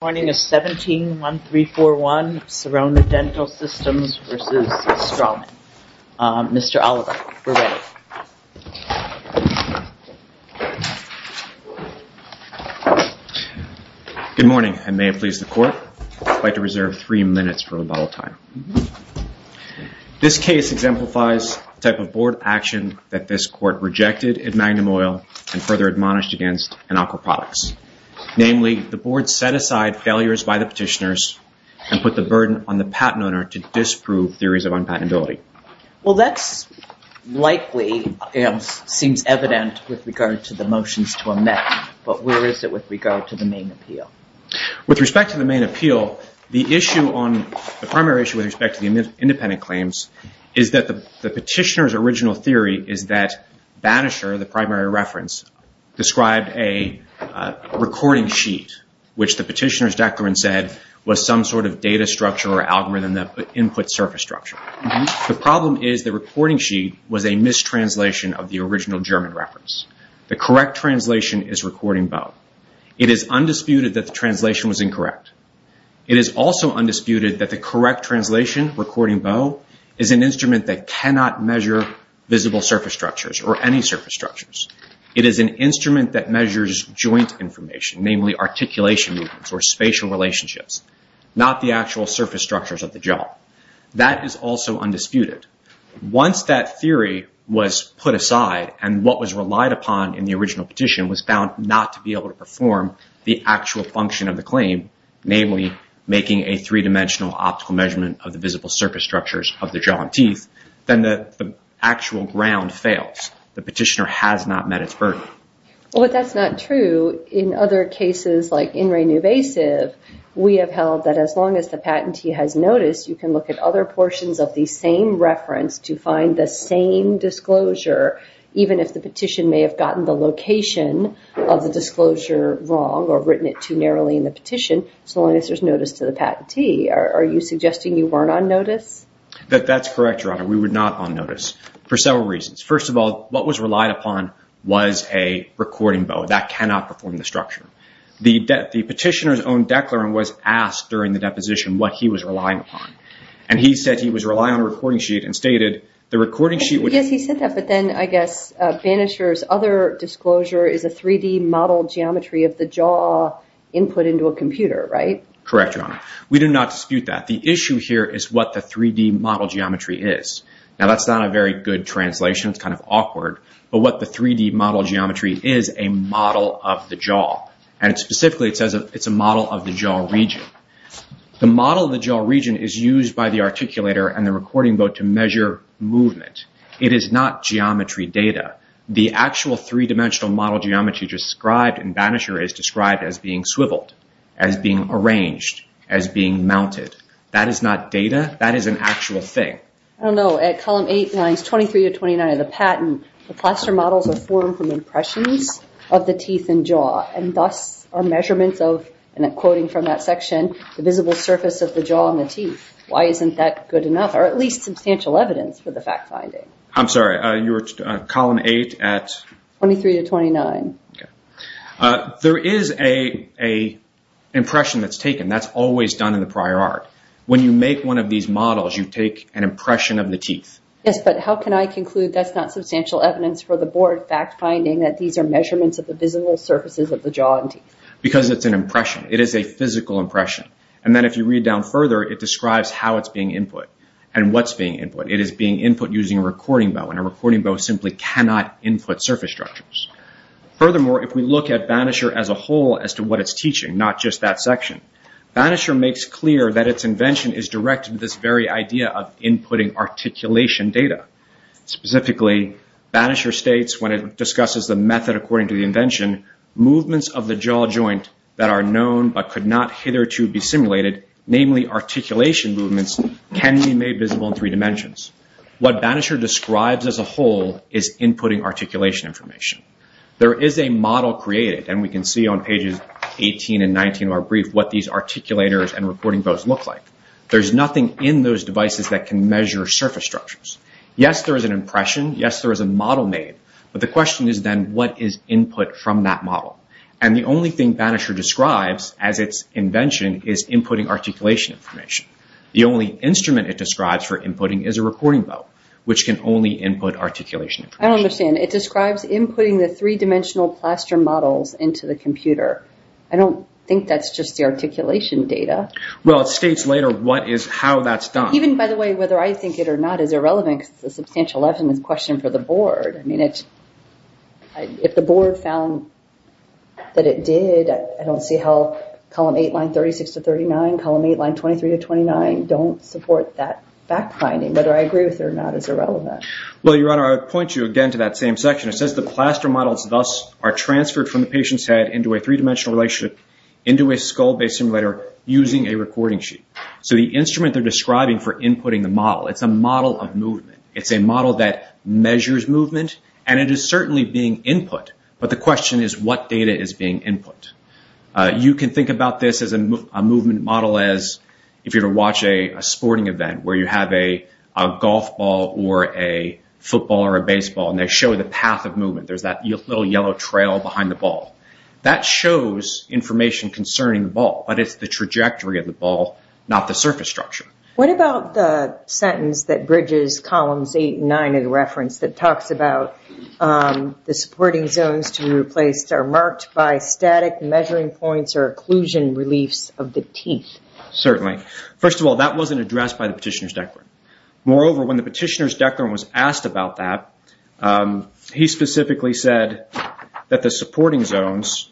Good morning. I may have pleased the court. I would like to reserve three minutes for rebuttal time. This case exemplifies the type of board action that this court rejected at the time of the hearing. With respect to the main appeal, the primary issue with respect to the independent claims is that the petitioner's original theory is that Bannisher, the primary reference, described a recording sheet, which the petitioner's declarant said was some sort of data structure or algorithm that input surface structure. The problem is the recording sheet was a mistranslation of the original German reference. The correct translation is recording bow. It is undisputed that the translation was incorrect. It is also undisputed that the correct translation, recording bow, is an instrument that cannot measure visible surface structures or any measures joint information, namely articulation or spatial relationships, not the actual surface structures of the jaw. That is also undisputed. Once that theory was put aside and what was relied upon in the original petition was found not to be able to perform the actual function of the claim, namely making a three-dimensional optical measurement of the visible surface structures of the jaw and teeth, then the actual ground fails. The petitioner has not met its burden. But that's not true. In other cases like in reinvasive, we have held that as long as the patentee has noticed, you can look at other portions of the same reference to find the same disclosure, even if the petition may have gotten the location of the disclosure wrong or written it too narrowly in the petition, so long as there's notice to the patentee. Are you suggesting you weren't on notice? That's correct, Your Honor. We were not on notice for several reasons. First of all, what was relied upon was a recording bow. That cannot perform the structure. The petitioner's own declarant was asked during the deposition what he was relying upon, and he said he was relying on a recording sheet and stated, the recording sheet would- Yes, he said that, but then I guess Banisher's other disclosure is a 3D model geometry of the jaw input into a computer, right? Correct, Your Honor. We do not dispute that. The issue here is what the 3D model geometry is. Now, that's not a very good translation. It's kind of awkward, but what the 3D model geometry is, a model of the jaw. Specifically, it says it's a model of the jaw region. The model of the jaw region is used by the articulator and the recording bow to measure movement. It is not geometry data. The actual three-dimensional model geometry described in Banisher is described as being swiveled, as being arranged, as being mounted. That is not data. That is an actual thing. I don't know. At column 8, lines 23 to 29 of the patent, the plaster models are formed from impressions of the teeth and jaw, and thus, are measurements of, and I'm quoting from that section, the visible surface of the jaw and the teeth. Why isn't that good enough, or at least substantial evidence for the fact finding? I'm sorry. You're at column 8 at- 23 to 29. There is an impression that's taken. That's always done in the prior art. When you make one of these models, you take an impression of the teeth. Yes, but how can I conclude that's not substantial evidence for the board fact finding that these are measurements of the visible surfaces of the jaw and teeth? Because it's an impression. It is a physical impression. Then, if you read down further, it describes how it's being input and what's being input. It is being input using a recording though simply cannot input surface structures. Furthermore, if we look at Banisher as a whole as to what it's teaching, not just that section, Banisher makes clear that its invention is directed to this very idea of inputting articulation data. Specifically, Banisher states when it discusses the method according to the invention, movements of the jaw joint that are known but could not hitherto be simulated, namely articulation movements, can be made visible in three dimensions. What Banisher describes as a whole is inputting articulation information. There is a model created and we can see on pages 18 and 19 of our brief what these articulators and recording both look like. There's nothing in those devices that can measure surface structures. Yes, there is an impression. Yes, there is a model made, but the question is then what is input from that model? The only thing Banisher describes as its invention is inputting articulation information. The only instrument it describes for inputting is a recording boat, which can only input articulation information. I don't understand. It describes inputting the three-dimensional plaster models into the computer. I don't think that's just the articulation data. Well, it states later what is how that's done. Even by the way, whether I think it or not is irrelevant because it's a substantial evidence question for the board. If the board found that it did, I don't see how column 8, line 36 to 39, column 8, line 23 to 29, don't support that fact-finding, whether I agree with it or not is irrelevant. Well, Your Honor, I'd point you again to that same section. It says the plaster models thus are transferred from the patient's head into a three-dimensional relationship into a skull-based simulator using a recording sheet. So the instrument they're describing for inputting the model, it's a model of movement. It's a model that measures movement and it is certainly being input, but the question is what data is being input? You can think about this as a movement model as if you were to watch a sporting event where you have a golf ball or a football or a baseball and they show the path of movement. There's that little yellow trail behind the ball. That shows information concerning the ball, but it's the trajectory of the ball, not the surface structure. What about the sentence that bridges columns 8 and 9 in the reference that talks about the supporting zones to be replaced are marked by static measuring points or occlusion reliefs of the teeth? Certainly. First of all, that wasn't addressed by the petitioner's declaring. Moreover, when the petitioner's declaring was asked about that, he specifically said that the supporting zones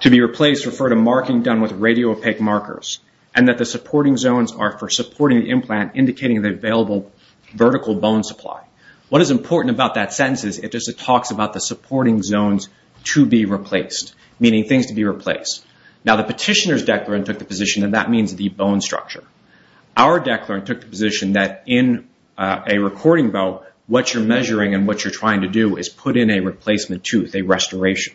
to be replaced refer to marking done with radio-opaque markers and that the supporting zones are for supporting the implant indicating the available vertical bone supply. What is important about that sentence is it just talks about the supporting zones to be replaced, meaning things to be replaced. Now, the petitioner's declarant took the position that that means the bone structure. Our declarant took the position that in a recording bow, what you're measuring and what you're trying to do is put in a replacement tooth, a restoration.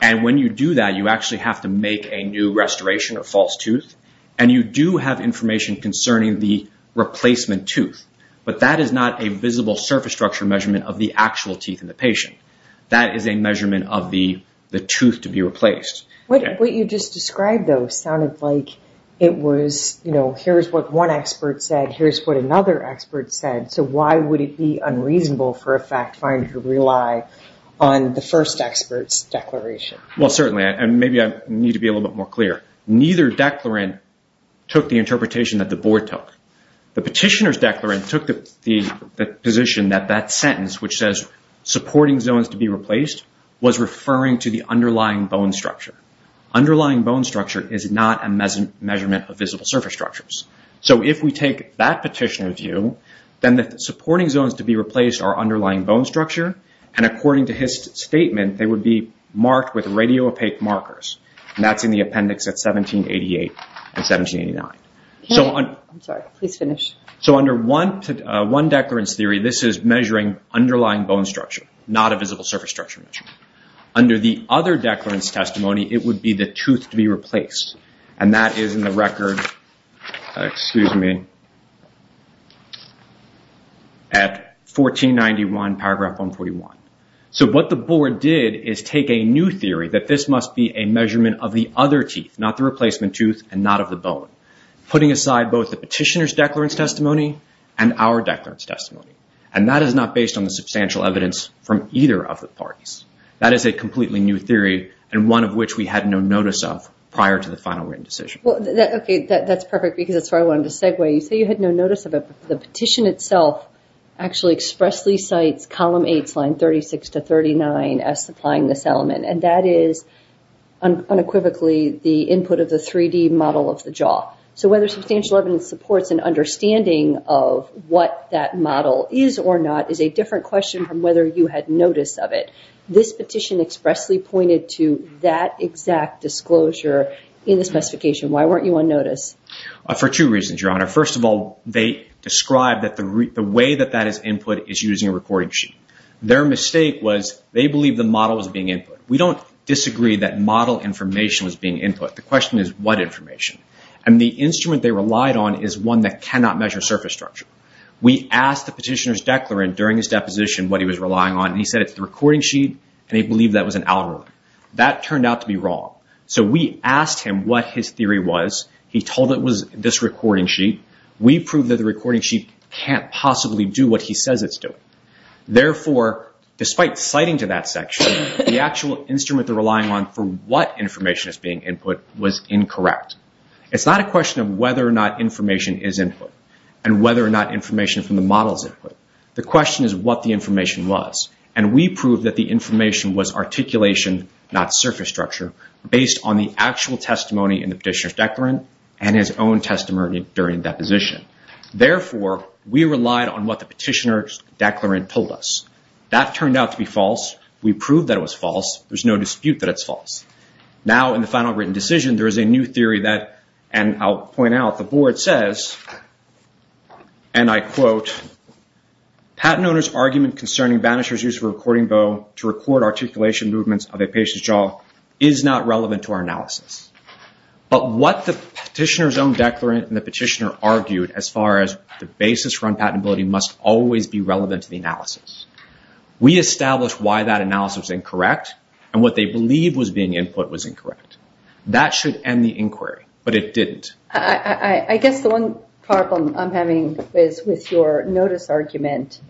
When you do that, you actually have to make a new restoration or false tooth and you do have information concerning the replacement tooth, but that is not a visible surface structure measurement of the actual teeth in the patient. That is a measurement of the tooth to be replaced. What you just described, though, sounded like it was here's what one expert said, here's what another expert said, so why would it be unreasonable for a fact finder to rely on the first expert's declaration? Certainly, and maybe I need to be a little bit more clear. Neither declarant took the interpretation that the board took. The petitioner's declarant took the position that that sentence, which says supporting zones to be replaced, was referring to the underlying bone structure. Underlying bone structure is not a measurement of visible surface structures. If we take that petitioner view, then the supporting zones to be replaced are underlying bone structure, and according to his statement, they would be marked with radio opaque markers. That's in the appendix at 1788 and 1789. I'm sorry, please finish. Under one declarant's theory, this is measuring underlying bone structure, not a visible surface structure measurement. Under the other declarant's testimony, it would be the tooth to be replaced. That is in the record, excuse me, at 1491 paragraph 141. What the board did is take a new theory that this must be a measurement of the other teeth, not the replacement tooth and not of the bone, putting aside both the petitioner's declarant's testimony and our declarant's testimony. That is not based on the substantial evidence from either of the parties. That is a completely new theory, and one of which we had no notice of prior to the final written decision. That's perfect because that's where I wanted to segue. You say you had no notice of it, but the petition itself actually expressly cites column 8, slide 36 to 39 as supplying this element, and that is unequivocally the input of the 3D model of the jaw. Whether substantial evidence supports an understanding of what that model is or not is a different question from whether you had notice of it. This petition expressly pointed to that exact disclosure in the specification. Why weren't you on notice? For two reasons, Your Honor. First of all, they described that the way that that is input is using a recording sheet. Their mistake was they believed the model was being input. We don't disagree that model information was being input. The question is what information? The instrument they relied on is one that cannot measure surface structure. We asked the petitioner's declarant during his deposition what he was relying on. He said it's the recording sheet, and he believed that was an algorithm. That turned out to be wrong. We asked him what his theory was. He told it was this recording sheet. We proved that the recording sheet can't possibly do what he says it's doing. Therefore, despite citing to that section, the actual instrument they're relying on for what information is being input was incorrect. It's not a question of whether or not information is input and whether or not information from the model is input. The question is what the information was. We proved that the information was articulation, not surface structure, based on the actual testimony in the petitioner's declarant and his own testimony during deposition. Therefore, we relied on what the petitioner's declarant told us. That turned out to be false. We proved that it was false. There's no dispute that it's false. Now in the final written decision, there is a new theory that, and I'll point out, the new theory is, and I quote, patent owner's argument concerning banisher's use of a recording bow to record articulation movements of a patient's jaw is not relevant to our analysis. But what the petitioner's own declarant and the petitioner argued as far as the basis for unpatentability must always be relevant to the analysis. We established why that analysis was incorrect and what they believed was being input was incorrect. That should end the inquiry, but it didn't. I guess the one problem I'm having is with your notice argument.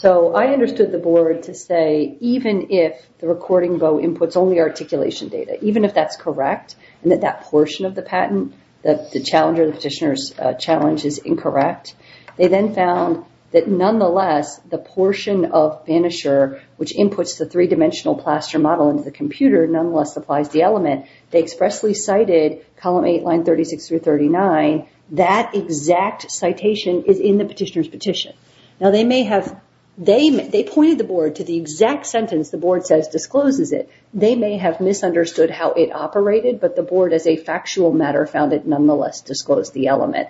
So I understood the board to say, even if the recording bow inputs only articulation data, even if that's correct and that that portion of the patent, the challenger, the petitioner's challenge is incorrect, they then found that nonetheless, the portion of banisher, which inputs the three-dimensional plaster model into the computer, nonetheless supplies the element. They expressly cited column eight, line 36 through 39. That exact citation is in the petitioner's petition. Now they may have, they pointed the board to the exact sentence the board says discloses it. They may have misunderstood how it operated, but the board as a factual matter found it nonetheless disclosed the element.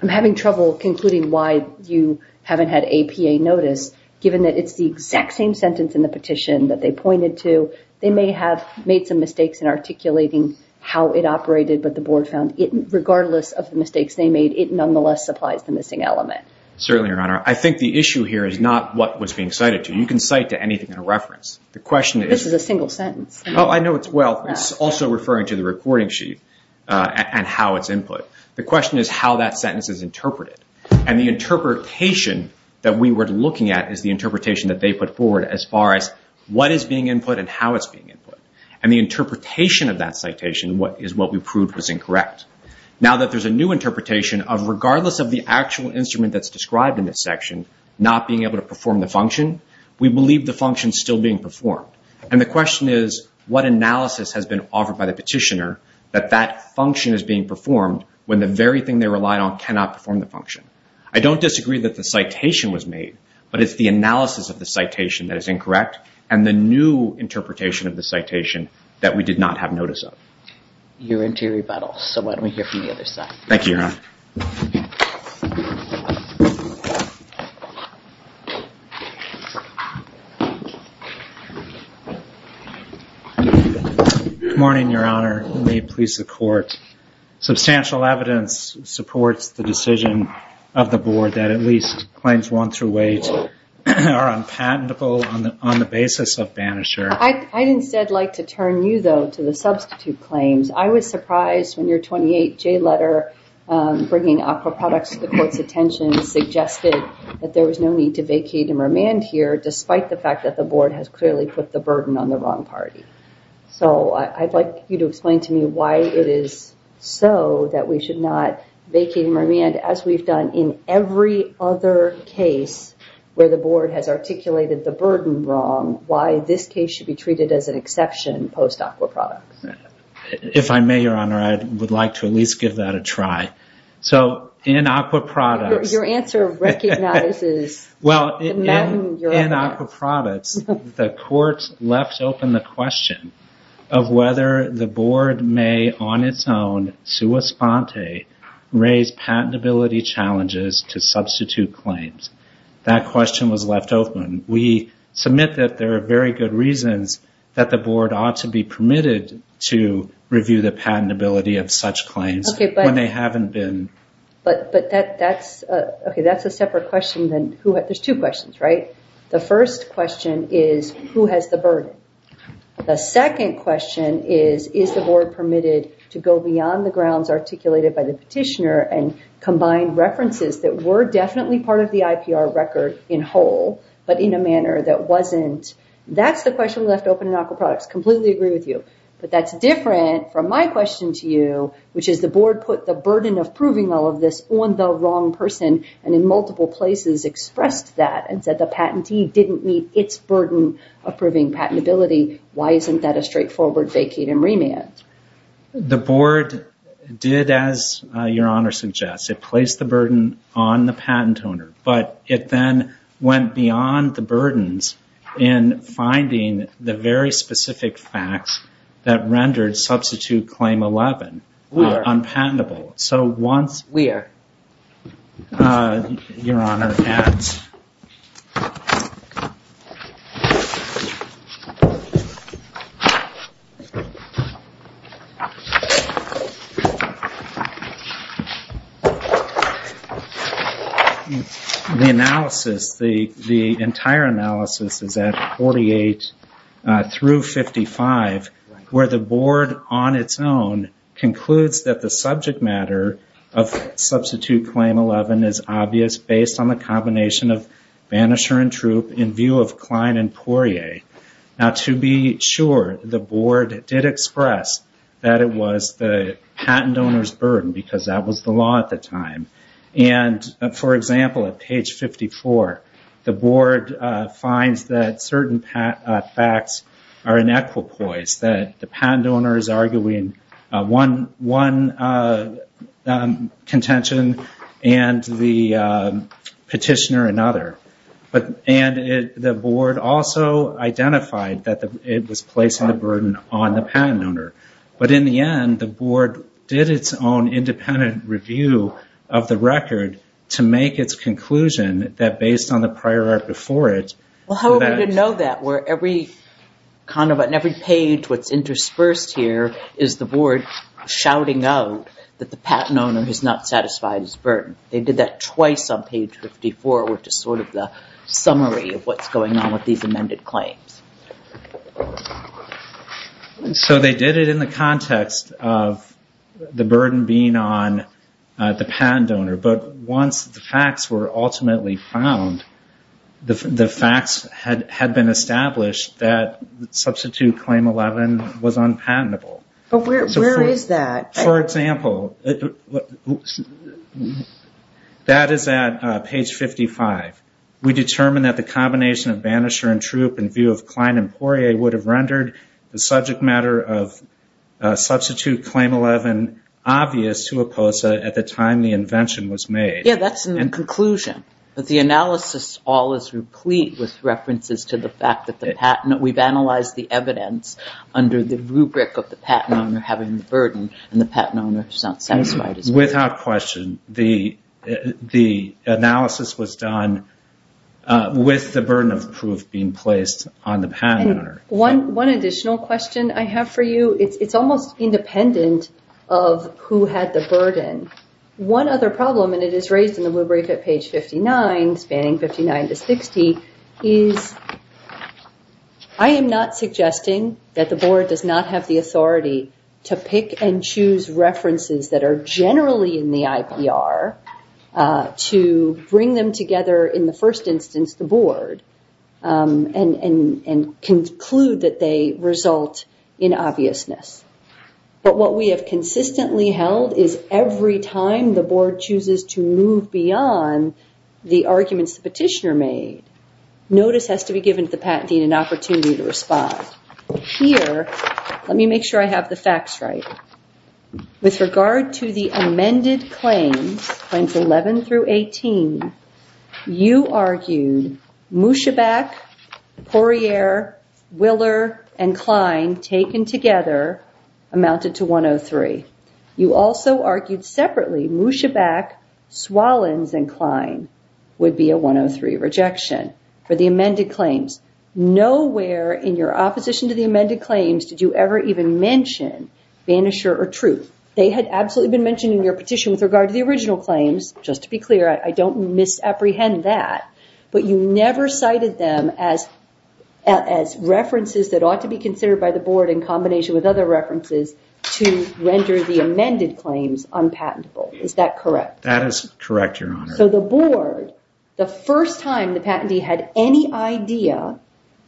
I'm having trouble concluding why you haven't had APA notice, given that it's the exact same sentence in the petition that they pointed to. They may have made some mistakes in articulating how it operated, but the board found, regardless of the mistakes they made, it nonetheless supplies the missing element. Certainly, Your Honor. I think the issue here is not what was being cited to. You can cite to anything in a reference. The question is... This is a single sentence. Oh, I know it's... Well, it's also referring to the recording sheet and how it's input. The question is how that sentence is interpreted. And the interpretation that we were looking at is the interpretation that they put forward as far as what is being input and how it's being input. And the interpretation of that citation is what we proved was incorrect. Now that there's a new interpretation of regardless of the actual instrument that's described in this section, not being able to perform the function, we believe the function is still being performed. And the question is, what analysis has been offered by the petitioner that that function is being performed when the very thing they relied on cannot perform the function? I don't disagree that the citation was made, but it's the analysis of the citation that the citation that we did not have notice of. You're into rebuttal, so why don't we hear from the other side? Thank you, Your Honor. Good morning, Your Honor. May it please the court. Substantial evidence supports the decision of the board that at least claims won through wage are unpatentable on the basis of banisher. I'd instead like to turn you, though, to the substitute claims. I was surprised when your 28-J letter bringing aqua products to the court's attention suggested that there was no need to vacate and remand here, despite the fact that the board has clearly put the burden on the wrong party. So I'd like you to explain to me why it is so that we should not vacate and remand, as we've done in every other case where the board has articulated the burden wrong, why this case should be treated as an exception post-aqua products. If I may, Your Honor, I would like to at least give that a try. In aqua products, the court left open the question of whether the board may on its own, sua sponte, raise patentability challenges to substitute claims. That question was left open. We submit that there are very good reasons that the board ought to be permitted to review the patentability of such claims when they haven't been. But that's a separate question. There's two questions, right? The first question is, who has the burden? The second question is, is the board permitted to go beyond the grounds articulated by the petitioner and combine references that were definitely part of the IPR record in whole, but in a manner that wasn't? That's the question left open in aqua products. Completely agree with you. But that's different from my question to you, which is the board put the burden of proving all of this on the wrong person and in multiple places expressed that and said the patentee didn't meet its burden of proving patentability. Why isn't that a straightforward vacate and remand? The board did as your honor suggests. It placed the burden on the patent owner, but it then went beyond the burdens in finding the very specific facts that rendered substitute claim 11 unpatentable. We are. The analysis, the entire analysis is at 48 through 55, where the board on its own concludes that the subject matter of substitute claim 11 is obvious based on the combination of facts that it was the patent owner's burden, because that was the law at the time. For example, at page 54, the board finds that certain facts are inequal poise, that the patent owner is arguing one contention and the petitioner another. The board also identified that it was placing the burden on the patent owner. But in the end, the board did its own independent review of the record to make its conclusion that based on the prior art before it. However, we didn't know that, where every page that's interspersed here is the board shouting out that the patent owner is not satisfied his burden. They did that twice on page 54, which is sort of the summary of what's going on with these amended claims. They did it in the context of the burden being on the patent owner, but once the facts were ultimately found, the facts had been established that substitute claim 11 was unpatentable. Where is that? For example, that is at page 55. We determined that the combination of banisher and troop in view of Klein and Poirier would have rendered the subject matter of substitute claim 11 obvious to a POSA at the time the invention was made. Yeah, that's in the conclusion. The analysis all is replete with references to the fact that we've analyzed the evidence under the rubric of the patent owner having the burden and the patent owner is not satisfied. Without question, the analysis was done with the burden of proof being placed on the patent owner. One additional question I have for you, it's almost independent of who had the burden. One other problem, and it is raised in the rubric at page 59, spanning 59 to 60, is I am not suggesting that the board does not have the authority to pick and choose references that are generally in the IPR to bring them together in the first instance, the board, and conclude that they result in obviousness. What we have consistently held is every time the board chooses to move beyond the arguments the petitioner made, notice has to be given to the patentee an opportunity to respond. Here, let me make sure I have the facts right. With regard to the amended claims, claims 11 through 18, you argued Mouchabac, Poirier, Willer, and Klein taken together amounted to 103. You also argued separately Mouchabac, Swalins, and Klein would be a 103 rejection for the amended claims. Nowhere in your opposition to the amended claims did you ever even mention Vanisher or Truth. They had absolutely been mentioned in your petition with regard to the original claims. Just to be clear, I don't misapprehend that, but you never cited them as references that ought to be considered by the board in combination with other references to render the amended claims unpatentable. Is that correct? That is correct, Your Honor. The board, the first time the patentee had any idea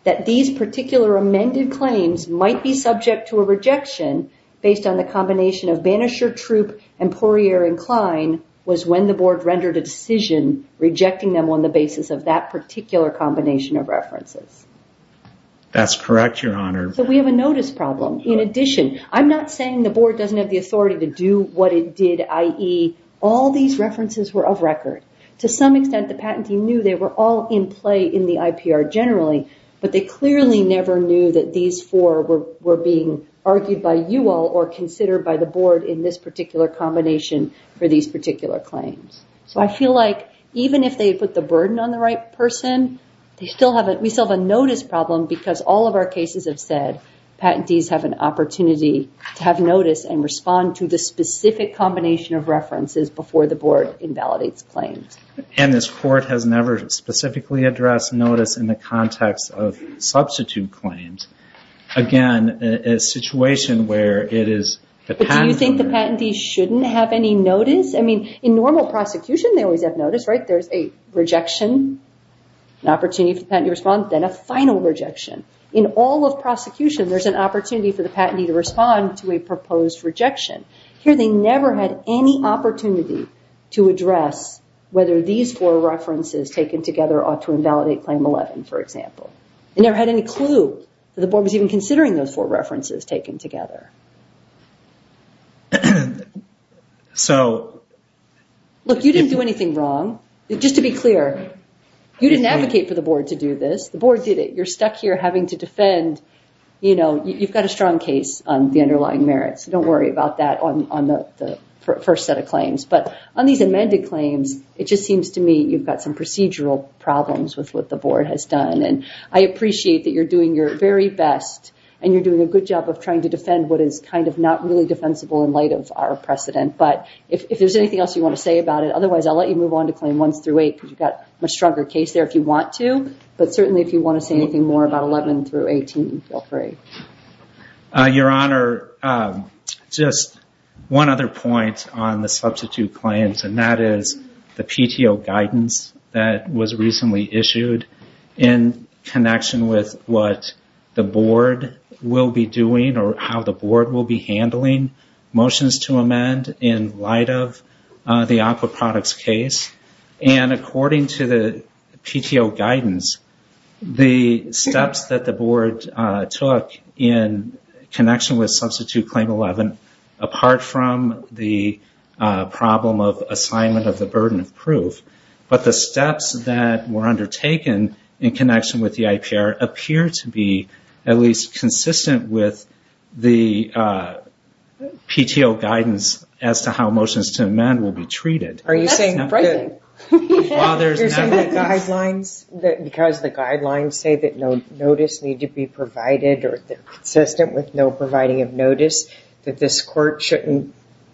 that these particular amended claims might be subject to a rejection based on the combination of Vanisher, Truth, and Poirier, and Klein was when the board rendered a decision rejecting them on the basis of that particular combination of references. That's correct, Your Honor. We have a notice problem. In addition, I'm not saying the board doesn't have the authority to do what it did, i.e., all these references were of record. To some extent, the patentee knew they were all in play in the IPR generally, but they clearly never knew that these four were being argued by you all or considered by the board in this particular combination for these particular claims. I feel like even if they put the burden on the right person, we still have a notice problem because all of our cases have said patentees have an opportunity to have notice and respond to the specific combination of references before the board invalidates claims. This court has never specifically addressed notice in the context of substitute claims. Again, a situation where it is the patent lawyer... Do you think the patentee shouldn't have any notice? In normal prosecution, they always have notice. There's a rejection, an opportunity for the patentee to respond, then a final rejection. In all of prosecution, there's an opportunity for the patentee to respond to a proposed rejection. Here, they never had any opportunity to address whether these four references taken together ought to invalidate Claim 11, for example. They never had any clue that the board was even considering those four references taken together. Look, you didn't do anything wrong. Just to be clear, you didn't advocate for the board to do this. The board did it. You're stuck here having to defend. You've got a strong case on the underlying merits. Don't worry about that on the first set of claims. But on these amended claims, it just seems to me you've got some procedural problems with what the board has done. I appreciate that you're doing your very best and you're not really defensible in light of our precedent. But if there's anything else you want to say about it, otherwise, I'll let you move on to Claim 1-8 because you've got a much stronger case there if you want to. But certainly, if you want to say anything more about 11-18, feel free. Your Honor, just one other point on the substitute claims, and that is the PTO guidance that was recently issued in connection with what the board will be doing or how the board will be handling motions to amend in light of the Aqua Products case. According to the PTO guidance, the steps that the board took in connection with Substitute Claim 11, apart from the problem of assignment of the burden of proof, but the steps that were undertaken in connection with the IPR appear to be at least consistent with the PTO guidance as to how motions to amend will be treated. Because the guidelines say that no notice need to be provided or consistent with no providing of notice that this court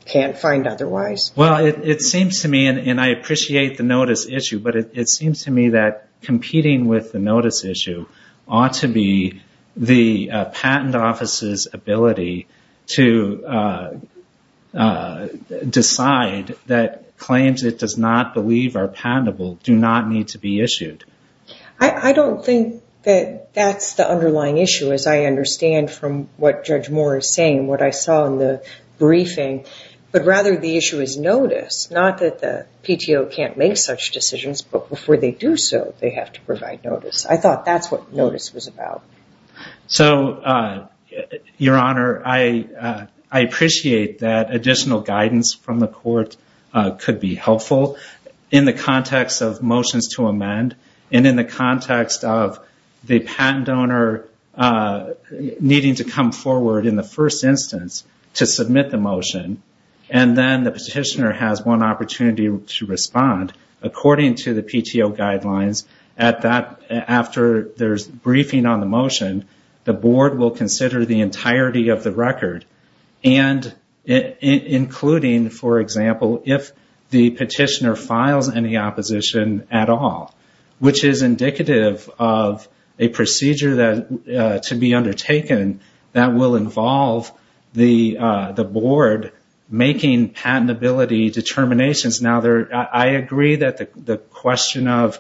can't find otherwise? It seems to me, and I appreciate the notice issue, but it seems to me that competing with the notice issue ought to be the Patent Office's ability to decide that claims it does not believe are patentable do not need to be issued. I don't think that that's the underlying issue as I understand from what Judge Moore is saying and what I saw in the briefing. But rather, the issue is notice, not that the PTO can't make such decisions, but before they do so, they have to provide notice. I thought that's what notice was about. Your Honor, I appreciate that additional guidance from the court could be helpful in the context of motions to amend and in the context of the patent owner needing to come forward in the first instance to submit the motion and then the petitioner has one opportunity to respond according to the PTO guidelines. After there's briefing on the motion, the Board will consider the entirety of the record, including, for example, if the petitioner files any opposition at all, which is indicative of a procedure to be undertaken that will involve the Board making patentability determinations. I agree that the question of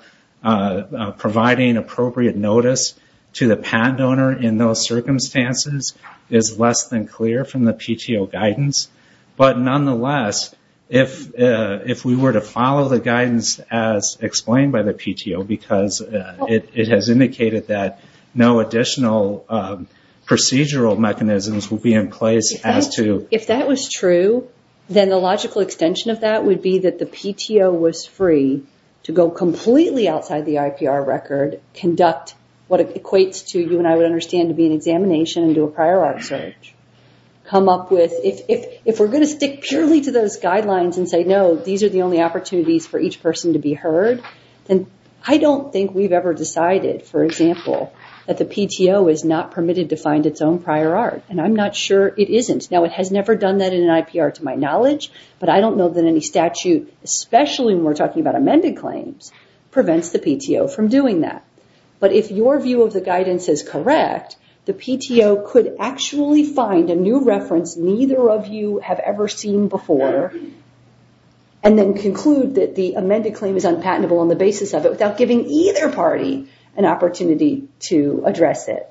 providing appropriate notice to the patent owner in those circumstances is less than clear from the PTO guidance, but nonetheless, if we were to follow the guidance as explained by the PTO, because it has indicated that no additional procedural mechanisms will be in place as to... If that was true, then the logical extension of that would be that the PTO was free to go completely outside the IPR record, conduct what equates to, you and I would understand, to be an examination and do a prior art search, come up with... If we're going to stick purely to those guidelines and say, no, these are the only opportunities for each person to be heard, then I don't think we've ever decided, for example, that the PTO is not permitted to find its own prior art, and I'm not sure it isn't. Now, it has never done that in an IPR to my knowledge, but I don't know that any statute, especially when we're talking about amended claims, prevents the PTO from doing that. But if your view of the guidance is correct, the PTO could actually find a new reference neither of you have ever seen before and then conclude that the amended claim is unpatentable on the basis of it without giving either party an opportunity to address it.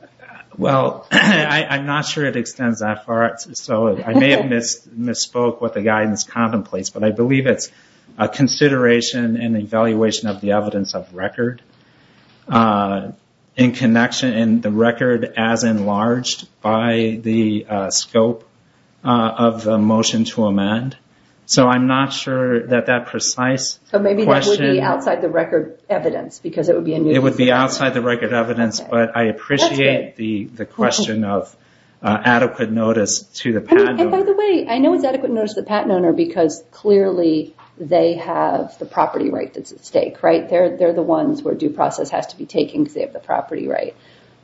Well, I'm not sure it extends that far, so I may have misspoke what the guidance contemplates, but I believe it's a consideration and evaluation of the evidence of record in connection and the record as enlarged by the scope of the motion to amend. So I'm not sure that that precise question... So maybe that would be outside the record evidence because it would be a new... It would be outside the record evidence, but I appreciate the question of adequate notice to the patent owner. And by the way, I know it's adequate notice to the patent owner because clearly they have the property right that's at stake, right? They're the ones where due process has to be taken because they have the property right.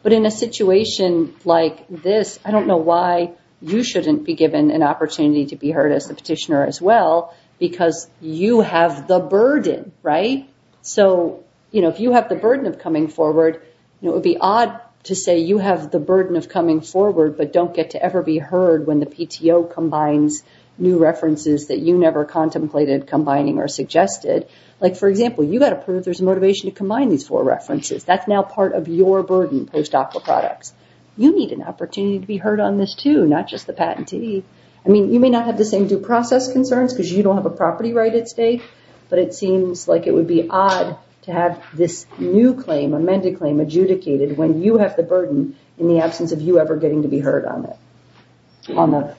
But in a situation like this, I don't know why you shouldn't be given an opportunity to be heard as the petitioner as well because you have the burden, right? So if you have the burden of coming forward, it would be odd to say you have the burden of coming forward, but don't get to ever be heard when the PTO combines new references that you never contemplated combining or suggested. Like for example, you got to prove there's a motivation to combine these four references. That's now part of your burden post-Aqua products. You need an opportunity to be heard on this too, not just the patentee. I mean, you may not have the same due process concerns because you don't have a property right at stake, but it seems like it would be odd to have this new claim, amended claim adjudicated when you have the burden in the absence of you ever getting to be heard on it.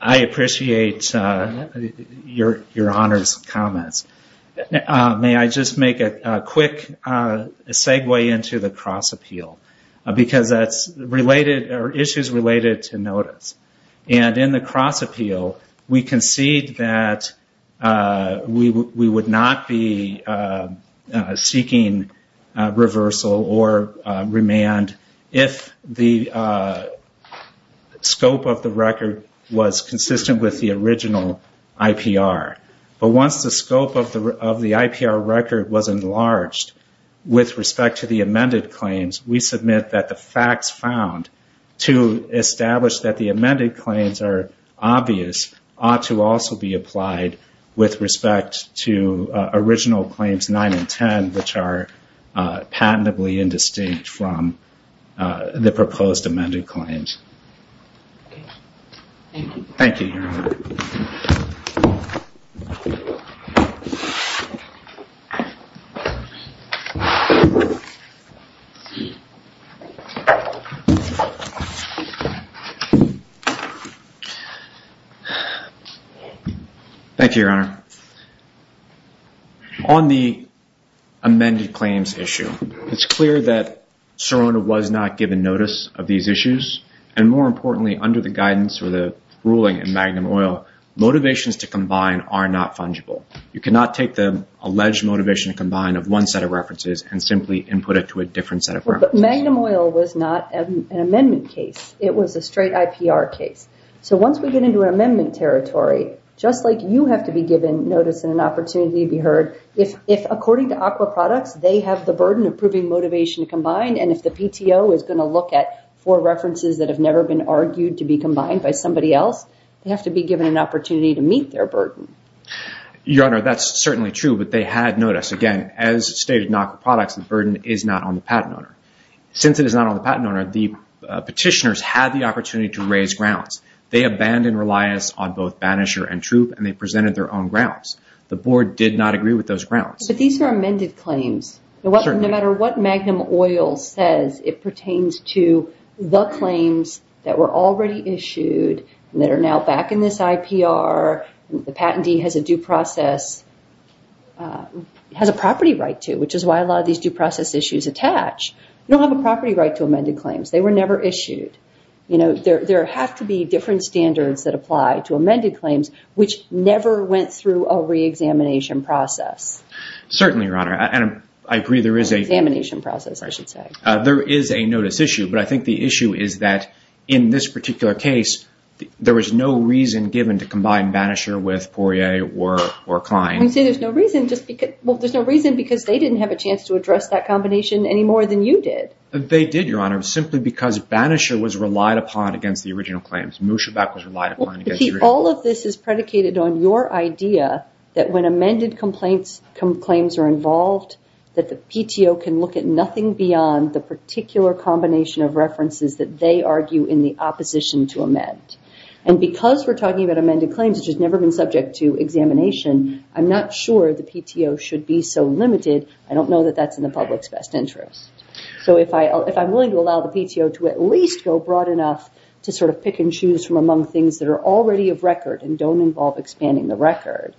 I appreciate your honors comments. May I just make a quick segue into the cross appeal because that's related or issues related to notice. In the cross appeal, we concede that we would not be seeking reversal or remand if the scope of the record was consistent with the original IPR. But once the scope of the IPR record was enlarged with respect to the amended claims, we submit that the facts found to establish that the amended claims are obvious ought to also be applied with respect to original claims 9 and 10, which are patentably indistinct from the proposed amended claims. Thank you. Thank you, your honor. On the amended claims issue, it's clear that Sirona was not given notice of these issues and more importantly, under the guidance or the ruling in Magnum Oil, motivations to combine are not fungible. You cannot take the alleged motivation to combine of one set of references and simply input it to a different set of references. But Magnum Oil was not an amendment case. It was a straight IPR case. So once we get into an amendment territory, just like you have to be given notice and an opportunity to be heard, if according to Aqua Products, they have the burden of proving motivation to combine and if the PTO is going to look at four references that have never been argued to be combined by somebody else, they have to be given an opportunity to meet their burden. Your honor, that's certainly true, but they had notice. Again, as stated in Aqua Products, the burden is not on the patent owner. Since it is not on the patent owner, the petitioners had the opportunity to raise grounds. They abandoned reliance on both banisher and troop and they presented their own grounds. The board did not agree with those grounds. But these are amended claims. No matter what Magnum Oil says, it pertains to the claims that were already issued that are now back in this IPR. The patentee has a due process, has a property right to, which is why a lot of these due process issues attach. You don't have a property right to amended claims. They were never issued. There have to be different standards that apply to amended claims, which never went through a re-examination process. Certainly, your honor. I agree there is a... Examination process, I should say. There is a notice issue, but I think the issue is that in this particular case, there was no reason given to combine banisher with Poirier or Klein. You say there's no reason, well, there's no reason because they didn't have a chance to address that combination any more than you did. They did, your honor, simply because banisher was relied upon against the original claims. Mooshabak was relied upon against the original. All of this is predicated on your idea that when amended claims are involved, that the PTO can look at nothing beyond the particular combination of references that they argue in the opposition to amend. Because we're talking about amended claims, which has never been subject to examination, I'm not sure the PTO should be so limited. I don't know that that's in the public's best interest. If I'm willing to allow the PTO to at least go broad enough to pick and choose from among the majority of record and don't involve expanding the record,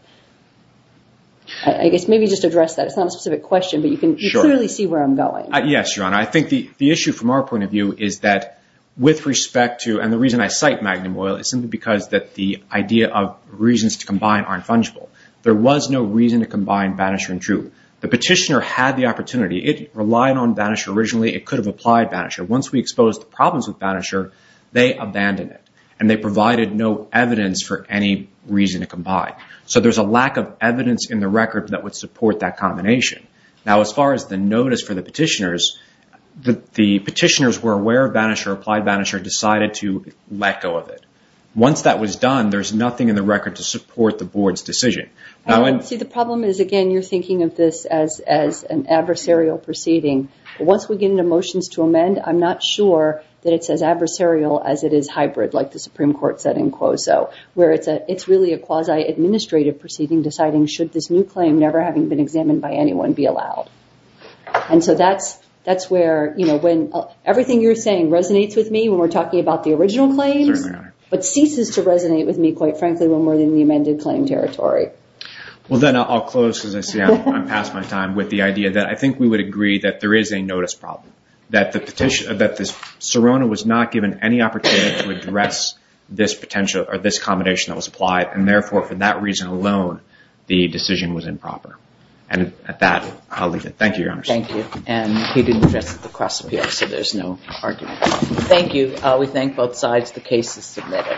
I guess maybe just address that. It's not a specific question, but you can clearly see where I'm going. Yes, your honor. I think the issue from our point of view is that with respect to, and the reason I cite Magnum Oil is simply because that the idea of reasons to combine aren't fungible. There was no reason to combine banisher and true. The petitioner had the opportunity. It relied on banisher originally. It could have applied banisher. Once we exposed the problems with banisher, they abandoned it and they provided no evidence for any reason to combine. There's a lack of evidence in the record that would support that combination. As far as the notice for the petitioners, the petitioners were aware of banisher, applied banisher, decided to let go of it. Once that was done, there's nothing in the record to support the board's decision. The problem is, again, you're thinking of this as an adversarial proceeding. Once we get into motions to amend, I'm not sure that it's as adversarial as it is hybrid like the Supreme Court said in Quoso, where it's really a quasi-administrative proceeding deciding should this new claim never having been examined by anyone be allowed. That's where when everything you're saying resonates with me when we're talking about the original claims, but ceases to resonate with me quite frankly when we're in the amended claim territory. Well, then I'll close because I see I'm past my time with the idea that I think we would agree that there is a notice problem, that Serona was not given any opportunity to address this combination that was applied, and therefore for that reason alone, the decision was improper. And at that, I'll leave it. Thank you, Your Honor. Thank you. And he didn't address it at the cross-appeal, so there's no argument. Thank you. We thank both sides. The case is submitted.